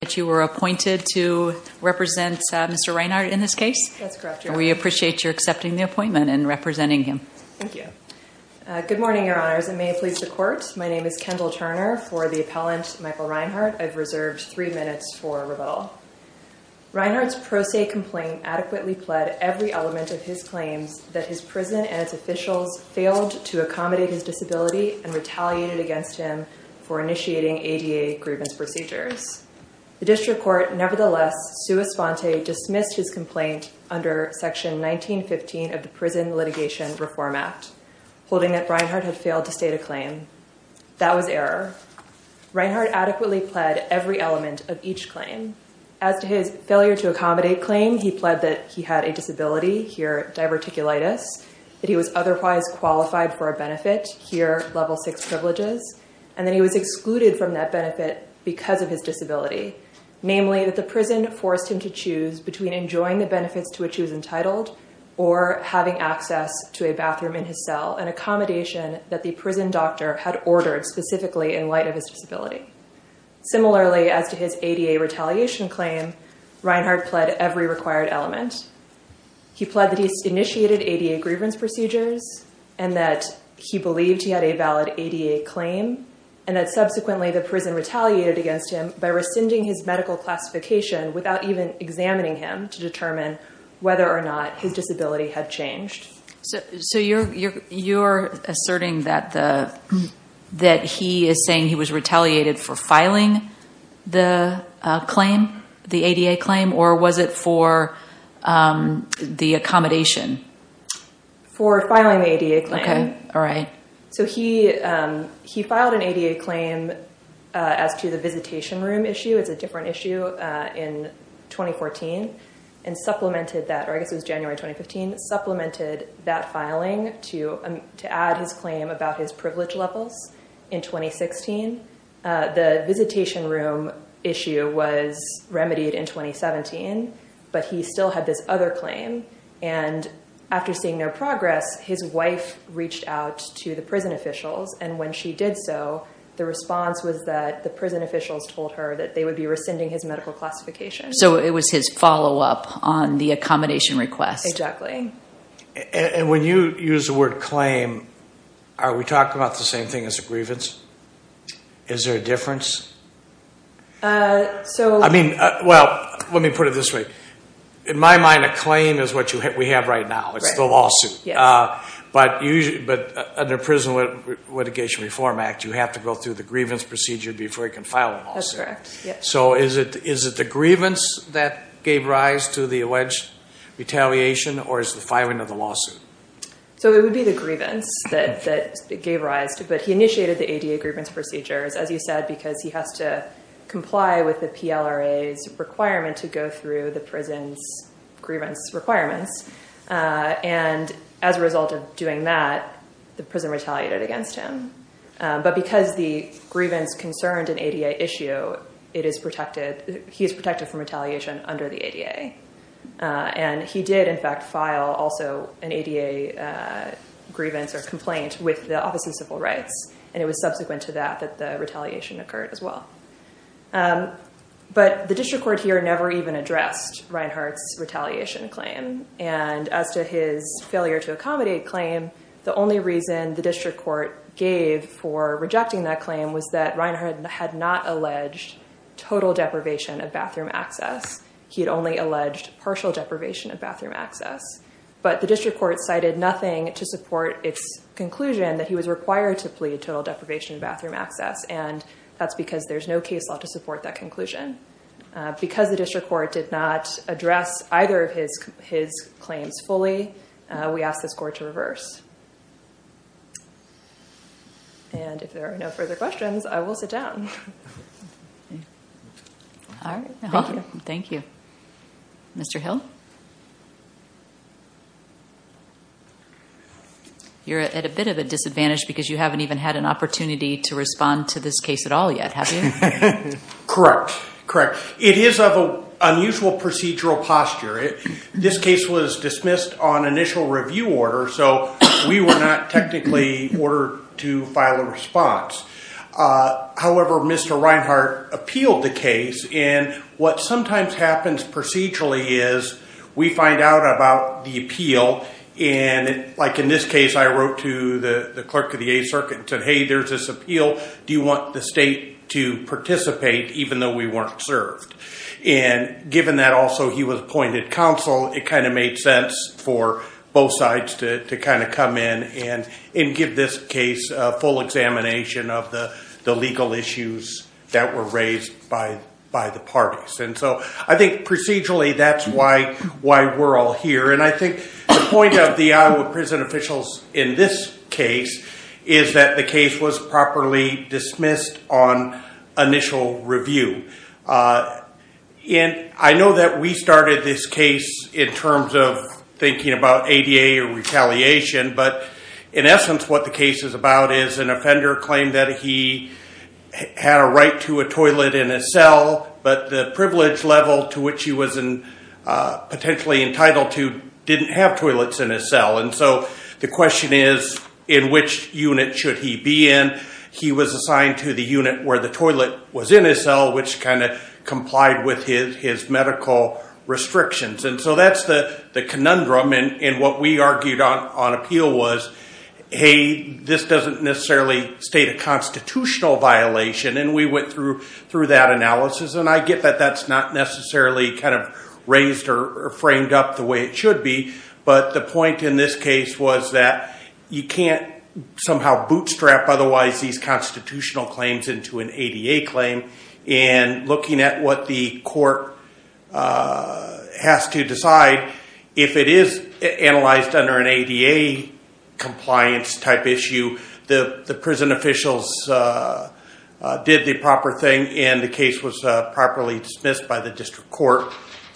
that you were appointed to represent Mr. Rinehart in this case. That's correct, Your Honor. We appreciate your accepting the appointment and representing him. Thank you. Good morning, Your Honors. It may please the Court. My name is Kendall Turner. For the appellant, Michael Rinehart, I've reserved three minutes for rebuttal. Rinehart's pro se complaint adequately pled every element of his claims that his prison and its officials failed to accommodate his disability and retaliated against him for the District Court. Nevertheless, Sua Sponte dismissed his complaint under Section 1915 of the Prison Litigation Reform Act, holding that Rinehart had failed to state a claim. That was error. Rinehart adequately pled every element of each claim. As to his failure to accommodate claim, he pled that he had a disability, here diverticulitis, that he was otherwise qualified for a benefit, here level six privileges, and that he was Namely, that the prison forced him to choose between enjoying the benefits to which he was entitled or having access to a bathroom in his cell, an accommodation that the prison doctor had ordered specifically in light of his disability. Similarly, as to his ADA retaliation claim, Rinehart pled every required element. He pled that he initiated ADA grievance procedures and that he believed he had a valid ADA claim and that subsequently the prison retaliated against him by rescinding his medical classification without even examining him to determine whether or not his disability had changed. So you're asserting that he is saying he was retaliated for filing the ADA claim, or was it for the accommodation? For filing the ADA claim. Okay. All right. So he filed an ADA claim as to the visitation room issue, it's a different issue, in 2014 and supplemented that, or I guess it was January 2015, supplemented that filing to add his claim about his privilege levels in 2016. The visitation room issue was remedied in 2017, but he still had this other claim and after seeing their progress, his wife reached out to the prison officials and when she did so, the response was that the prison officials told her that they would be rescinding his medical classification. So it was his follow-up on the accommodation request. Exactly. And when you use the word claim, are we talking about the same thing as a grievance? Is there a difference? I mean, well, let me put it this way. In my mind, a claim is what we have right now, it's the lawsuit. But under Prison Litigation Reform Act, you have to go through the grievance procedure before you can file a lawsuit. So is it the grievance that gave rise to the alleged retaliation, or is it the filing of the lawsuit? So it would be the grievance that gave rise to it, but he initiated the ADA grievance procedures, as you said, because he has to comply with the PLRA's requirement to go through the prison's grievance requirements. And as a result of doing that, the prison retaliated against him. But because the grievance concerned an ADA issue, he is protected from retaliation under the ADA. And he did, in fact, file also an ADA grievance or complaint with the Office of Civil Rights, and it was subsequent to that that the retaliation occurred as well. But the district court here never even addressed Reinhart's retaliation claim. And as to his failure to accommodate claim, the only reason the district court gave for rejecting that claim was that Reinhart had not alleged total deprivation of bathroom access. He had only alleged partial deprivation of bathroom access. But the district court cited nothing to support its conclusion that he was required to plead total deprivation of bathroom access. And that's because there's no case law to support that conclusion. Because the district court did not address either of his claims fully, we asked this court to reverse. And if there are no further questions, I will sit down. All right. Thank you. Mr. Hill? You're at a bit of a disadvantage because you haven't even had an opportunity to respond to this case at all yet, have you? Correct. Correct. It is of an unusual procedural posture. This case was dismissed on initial review order, so we were not technically ordered to file a response. However, Mr. Reinhart appealed the case. And what sometimes happens procedurally is we find out about the appeal, and like in this case, I wrote to the clerk of the Eighth Circuit and said, hey, there's this appeal. Do you want the state to participate, even though we weren't served? And given that also he was appointed counsel, it kind of made sense for both sides to kind of come in and give this case a full examination of the legal issues that were raised by the parties. And so I think procedurally, that's why we're all here. And I think the point of the Iowa prison officials in this case is that the case was properly dismissed on initial review. And I know that we started this case in terms of thinking about ADA retaliation, but in essence what the case is about is an offender claimed that he had a right to a toilet in a cell, but the privilege level to which he was potentially entitled to didn't have toilets in his cell. And so the question is, in which unit should he be in? And he was assigned to the unit where the toilet was in his cell, which kind of complied with his medical restrictions. And so that's the conundrum, and what we argued on appeal was, hey, this doesn't necessarily state a constitutional violation, and we went through that analysis. And I get that that's not necessarily kind of raised or framed up the way it should be, but the point in this case was that you can't somehow bootstrap otherwise these constitutional claims into an ADA claim, and looking at what the court has to decide, if it is analyzed under an ADA compliance type issue, the prison officials did the proper thing, and the case was properly dismissed by the district court,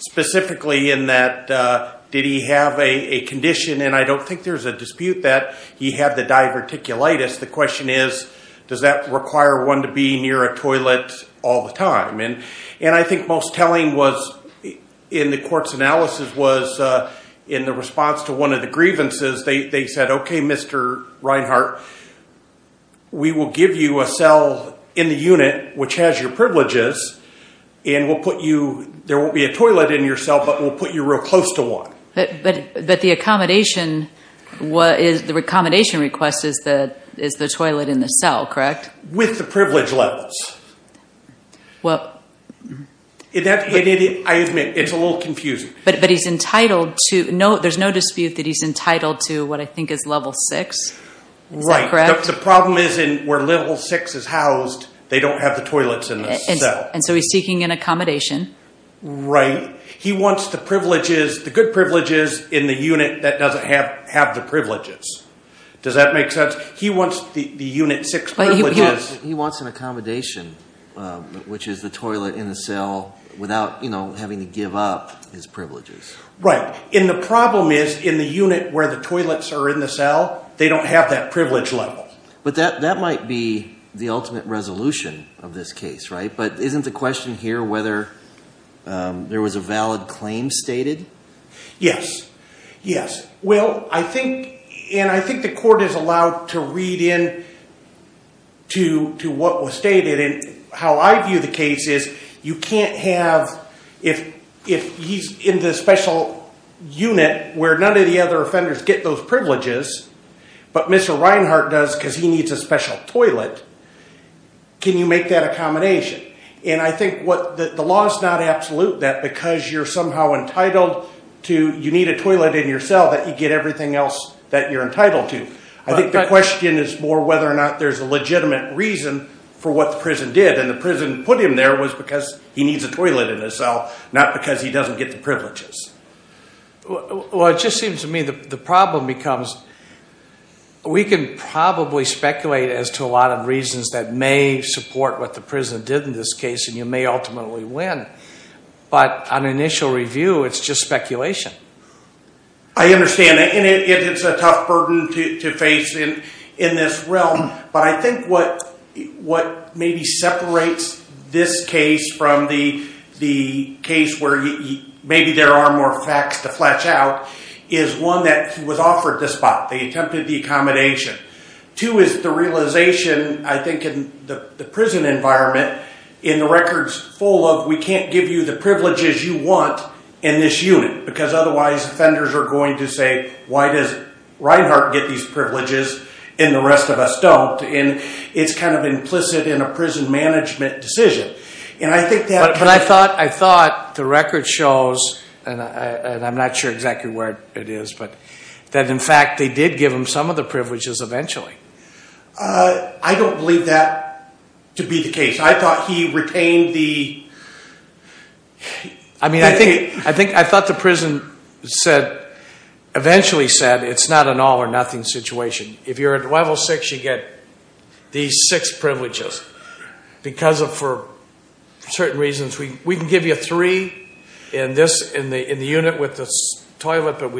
specifically in that, did he have a condition, and I don't think there's a dispute that he had the diverticulitis. The question is, does that require one to be near a toilet all the time? And I think most telling was, in the court's analysis, was in the response to one of the grievances, they said, okay, Mr. Reinhart, we will give you a cell in the unit which has your privileges, and we'll put you, there won't be a toilet in your cell, but we'll put you real close to one. But the accommodation, the accommodation request is the toilet in the cell, correct? With the privilege levels. Well... I admit, it's a little confusing. But he's entitled to, there's no dispute that he's entitled to what I think is level six, is that correct? The problem is in where level six is housed, they don't have the toilets in the cell. And so he's seeking an accommodation. Right. He wants the privileges, the good privileges in the unit that doesn't have the privileges. Does that make sense? He wants the unit six privileges. He wants an accommodation, which is the toilet in the cell, without having to give up his privileges. Right. And the problem is, in the unit where the toilets are in the cell, they don't have that But that might be the ultimate resolution of this case, right? But isn't the question here whether there was a valid claim stated? Yes. Yes. Well, I think, and I think the court is allowed to read in to what was stated. And how I view the case is, you can't have, if he's in the special unit where none of the other offenders get those privileges, but Mr. Reinhart does, because he needs a special toilet. Can you make that a combination? And I think what the law is not absolute, that because you're somehow entitled to, you need a toilet in your cell that you get everything else that you're entitled to. I think the question is more whether or not there's a legitimate reason for what the prison did. And the prison put him there was because he needs a toilet in his cell, not because he doesn't get the privileges. Well, it just seems to me the problem becomes, we can probably speculate as to a lot of reasons that may support what the prison did in this case, and you may ultimately win. But on initial review, it's just speculation. I understand. And it's a tough burden to face in this realm. But I think what maybe separates this case from the case where maybe there are more facts to flesh out, is one, that he was offered the spot, they attempted the accommodation. Two, is the realization, I think, in the prison environment, in the records full of, we can't give you the privileges you want in this unit, because otherwise offenders are going to say, why does Reinhart get these privileges and the rest of us don't? It's kind of implicit in a prison management decision. And I think that... But I thought the record shows, and I'm not sure exactly where it is, but that in fact they did give him some of the privileges eventually. I don't believe that to be the case. I thought he retained the... I mean, I think I thought the prison said, eventually said, it's not an all or nothing situation. If you're at level six, you get these six privileges, because of, for certain reasons. We can give you three in the unit with the toilet, but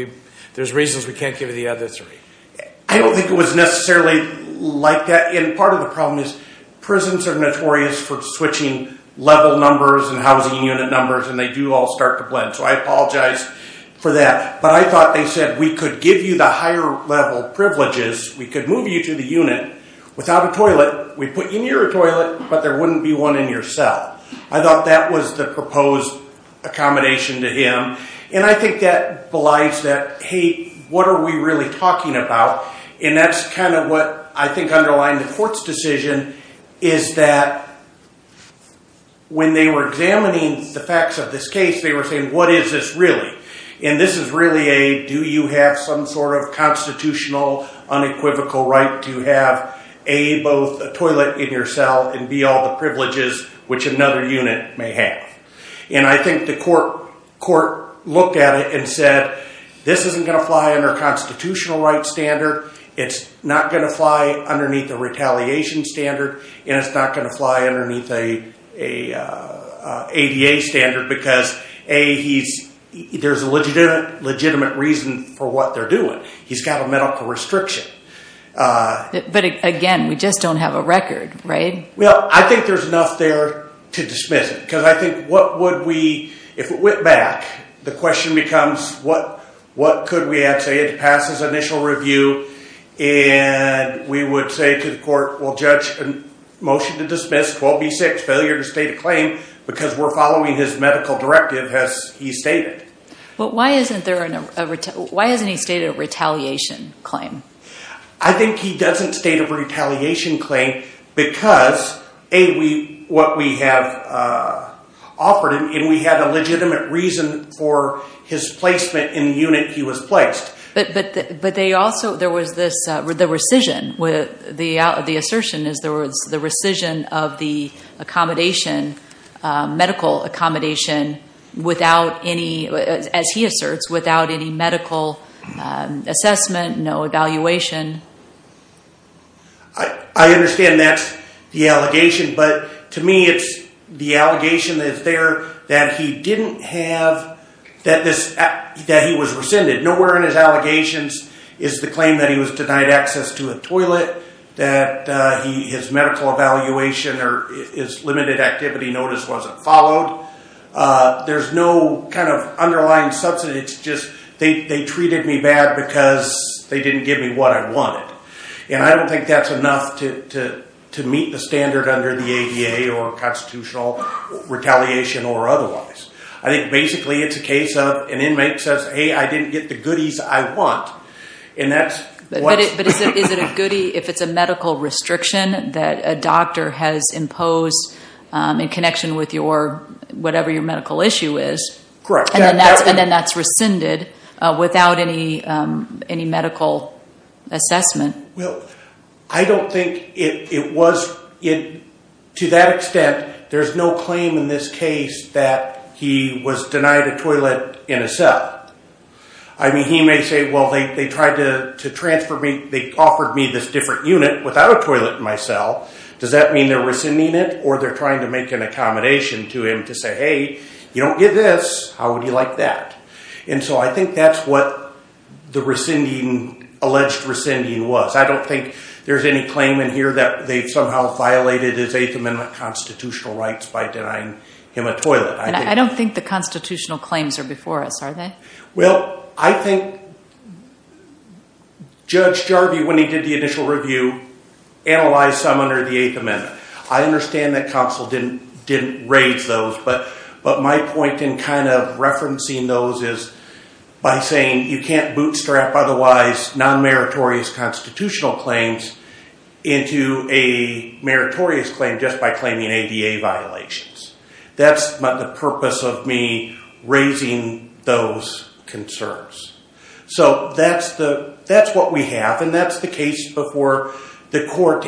there's reasons we can't give you the other three. I don't think it was necessarily like that, and part of the problem is prisons are notorious for switching level numbers and housing unit numbers, and they do all start to blend. So I apologize for that, but I thought they said, we could give you the higher level privileges, we could move you to the unit without a toilet, we'd put you near a toilet, but there wouldn't be one in your cell. I thought that was the proposed accommodation to him. And I think that belies that, hey, what are we really talking about? And that's kind of what I think underlined the court's decision, is that when they were examining the facts of this case, they were saying, what is this really? And this is really a, do you have some sort of constitutional unequivocal right to have a, both a toilet in your cell, and b, all the privileges which another unit may have. And I think the court looked at it and said, this isn't going to fly under constitutional right standard, it's not going to fly underneath a retaliation standard, and it's not going to fly underneath a ADA standard, because a, there's a legitimate reason for what they're doing. He's got a medical restriction. But again, we just don't have a record, right? Well, I think there's enough there to dismiss it, because I think what would we, if it went back, the question becomes, what could we have to pass as initial review, and we would say to the court, well, judge, motion to dismiss 12B6, failure to state a claim, because we're following his medical directive, as he stated. But why isn't there a, why hasn't he stated a retaliation claim? I think he doesn't state a retaliation claim, because a, what we have offered him, and we have a legitimate reason for his placement in the unit he was placed. But they also, there was this, the rescission, the assertion is there was the rescission of the accommodation, medical accommodation, without any, as he asserts, without any medical assessment, no evaluation. I understand that's the allegation, but to me, it's the allegation that's there that he didn't have, that he was rescinded. Nowhere in his allegations is the claim that he was denied access to a toilet, that his medical evaluation, or his limited activity notice wasn't followed. There's no kind of underlying substance, it's just, they treated me bad because they didn't give me what I wanted. And I don't think that's enough to meet the standard under the ADA or constitutional retaliation or otherwise. I think basically, it's a case of an inmate says, hey, I didn't get the goodies I want, and that's what- But is it a goodie if it's a medical restriction that a doctor has imposed in connection with your, whatever your medical issue is? Correct. And then that's rescinded without any medical assessment. I don't think it was, to that extent, there's no claim in this case that he was denied a toilet in a cell. I mean, he may say, well, they tried to transfer me, they offered me this different unit without a toilet in my cell. Does that mean they're rescinding it? Or they're trying to make an accommodation to him to say, hey, you don't get this. How would you like that? And so I think that's what the rescinding, alleged rescinding was. I don't think there's any claim in here that they've somehow violated his Eighth Amendment constitutional rights by denying him a toilet. I don't think the constitutional claims are before us, are they? Well, I think Judge Jarvie, when he did the initial review, analyzed some under the Eighth Amendment. I understand that counsel didn't raise those, but my point in kind of referencing those is by saying you can't bootstrap otherwise non-meritorious constitutional claims into a meritorious claim just by claiming ADA violations. That's the purpose of me raising those concerns. So that's what we have, and that's the case before the court.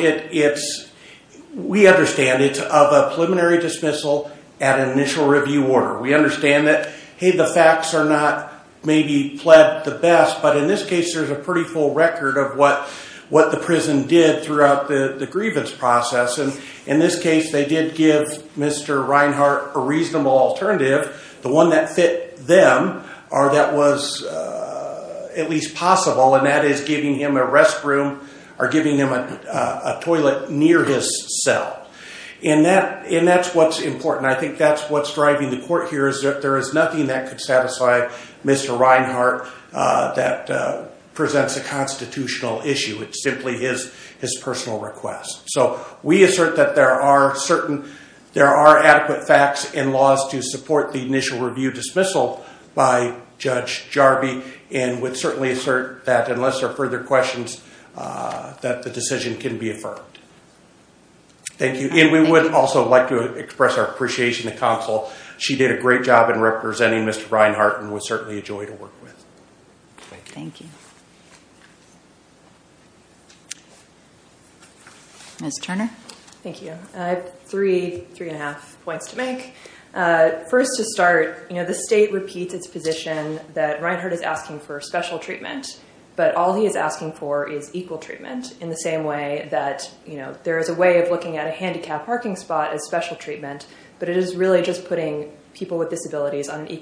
We understand it's of a preliminary dismissal at an initial review order. We understand that, hey, the facts are not maybe pled the best, but in this case, there's a pretty full record of what the prison did throughout the grievance process. In this case, they did give Mr. Reinhart a reasonable alternative. The one that fit them, or that was at least possible, and that is giving him a restroom or giving him a toilet near his cell, and that's what's important. I think that's what's driving the court here is that there is nothing that could satisfy Mr. Reinhart that presents a constitutional issue. It's simply his personal request. So we assert that there are adequate facts and laws to support the initial review dismissal by Judge Jarby, and would certainly assert that unless there are further questions that the decision can be affirmed. Thank you. We would also like to express our appreciation to counsel. She did a great job in representing Mr. Reinhart and was certainly a joy to work with. Thank you. Ms. Turner? Thank you. I have three, three and a half points to make. First to start, the state repeats its position that Reinhart is asking for special treatment, but all he is asking for is equal treatment in the same way that there is a way of looking at a handicapped parking spot as special treatment, but it is really just putting people with his disability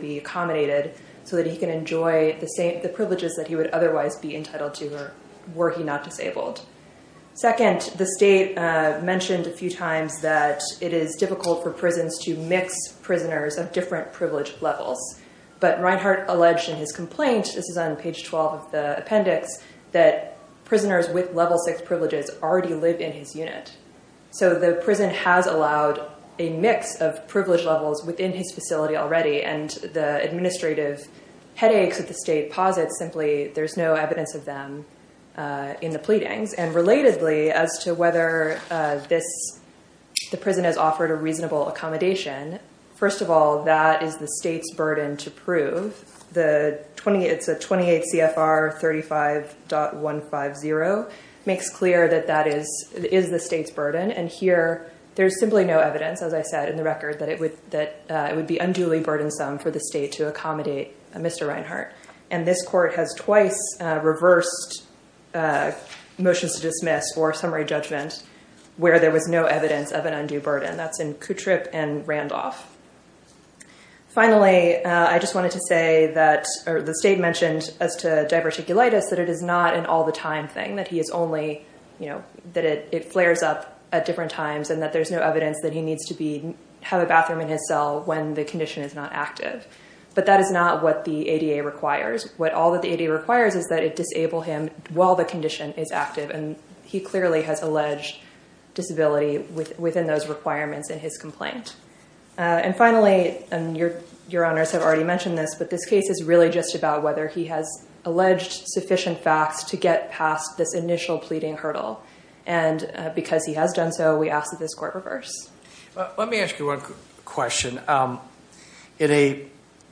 be accommodated so that he can enjoy the privileges that he would otherwise be entitled to were he not disabled. Second, the state mentioned a few times that it is difficult for prisons to mix prisoners of different privilege levels, but Reinhart alleged in his complaint, this is on page 12 of the appendix, that prisoners with level six privileges already live in his unit. So the prison has allowed a mix of privilege levels within his facility already, and the administrative headaches that the state posits, simply there is no evidence of them in the pleadings. And relatedly as to whether this, the prison has offered a reasonable accommodation, first of all, that is the state's burden to prove, the 28, it's a 28 CFR 35.150, makes clear that that is the state's burden. And here there's simply no evidence, as I said in the record, that it would be unduly burdensome for the state to accommodate Mr. Reinhart. And this court has twice reversed motions to dismiss or summary judgment where there was no evidence of an undue burden. That's in Kutryp and Randolph. Finally, I just wanted to say that the state mentioned as to diverticulitis, that it is not an all the time thing, that he is only, you know, that it, it flares up at different times and that there's no evidence that he needs to be, have a bathroom in his cell when the condition is not active. But that is not what the ADA requires. What all that the ADA requires is that it disable him while the condition is active. And he clearly has alleged disability within those requirements in his complaint. And finally, and your, your honors have already mentioned this, but this case is really just about whether he has alleged sufficient facts to get past this initial pleading hurdle. And because he has done so, we ask that this court reverse. Let me ask you one question. In a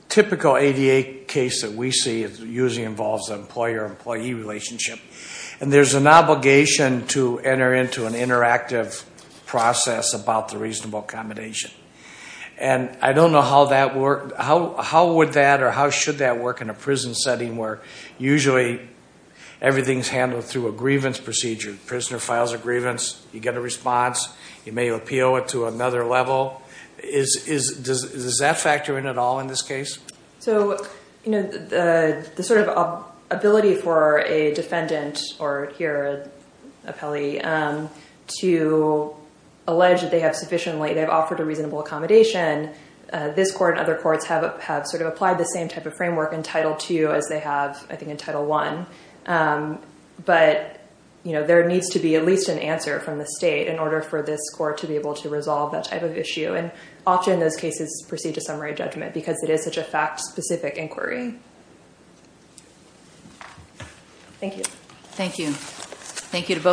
typical ADA case that we see, usually involves an employer-employee relationship, and there's an obligation to enter into an interactive process about the reasonable accommodation. And I don't know how that worked, how, how would that, or how should that work in a prison setting where usually everything's handled through a grievance procedure. Prisoner files a grievance, you get a response, you may appeal it to another level. Is, is, does, does that factor in at all in this case? So, you know, the, the sort of ability for a defendant or here, an appellee, to allege that they have sufficiently, they've offered a reasonable accommodation. This court and other courts have, have sort of applied the same type of framework in Title II as they have, I think, in Title I. But you know, there needs to be at least an answer from the state in order for this court to be able to resolve that type of issue. And often those cases proceed to summary judgment because it is such a fact-specific inquiry. Thank you. Thank you. Thank you to both.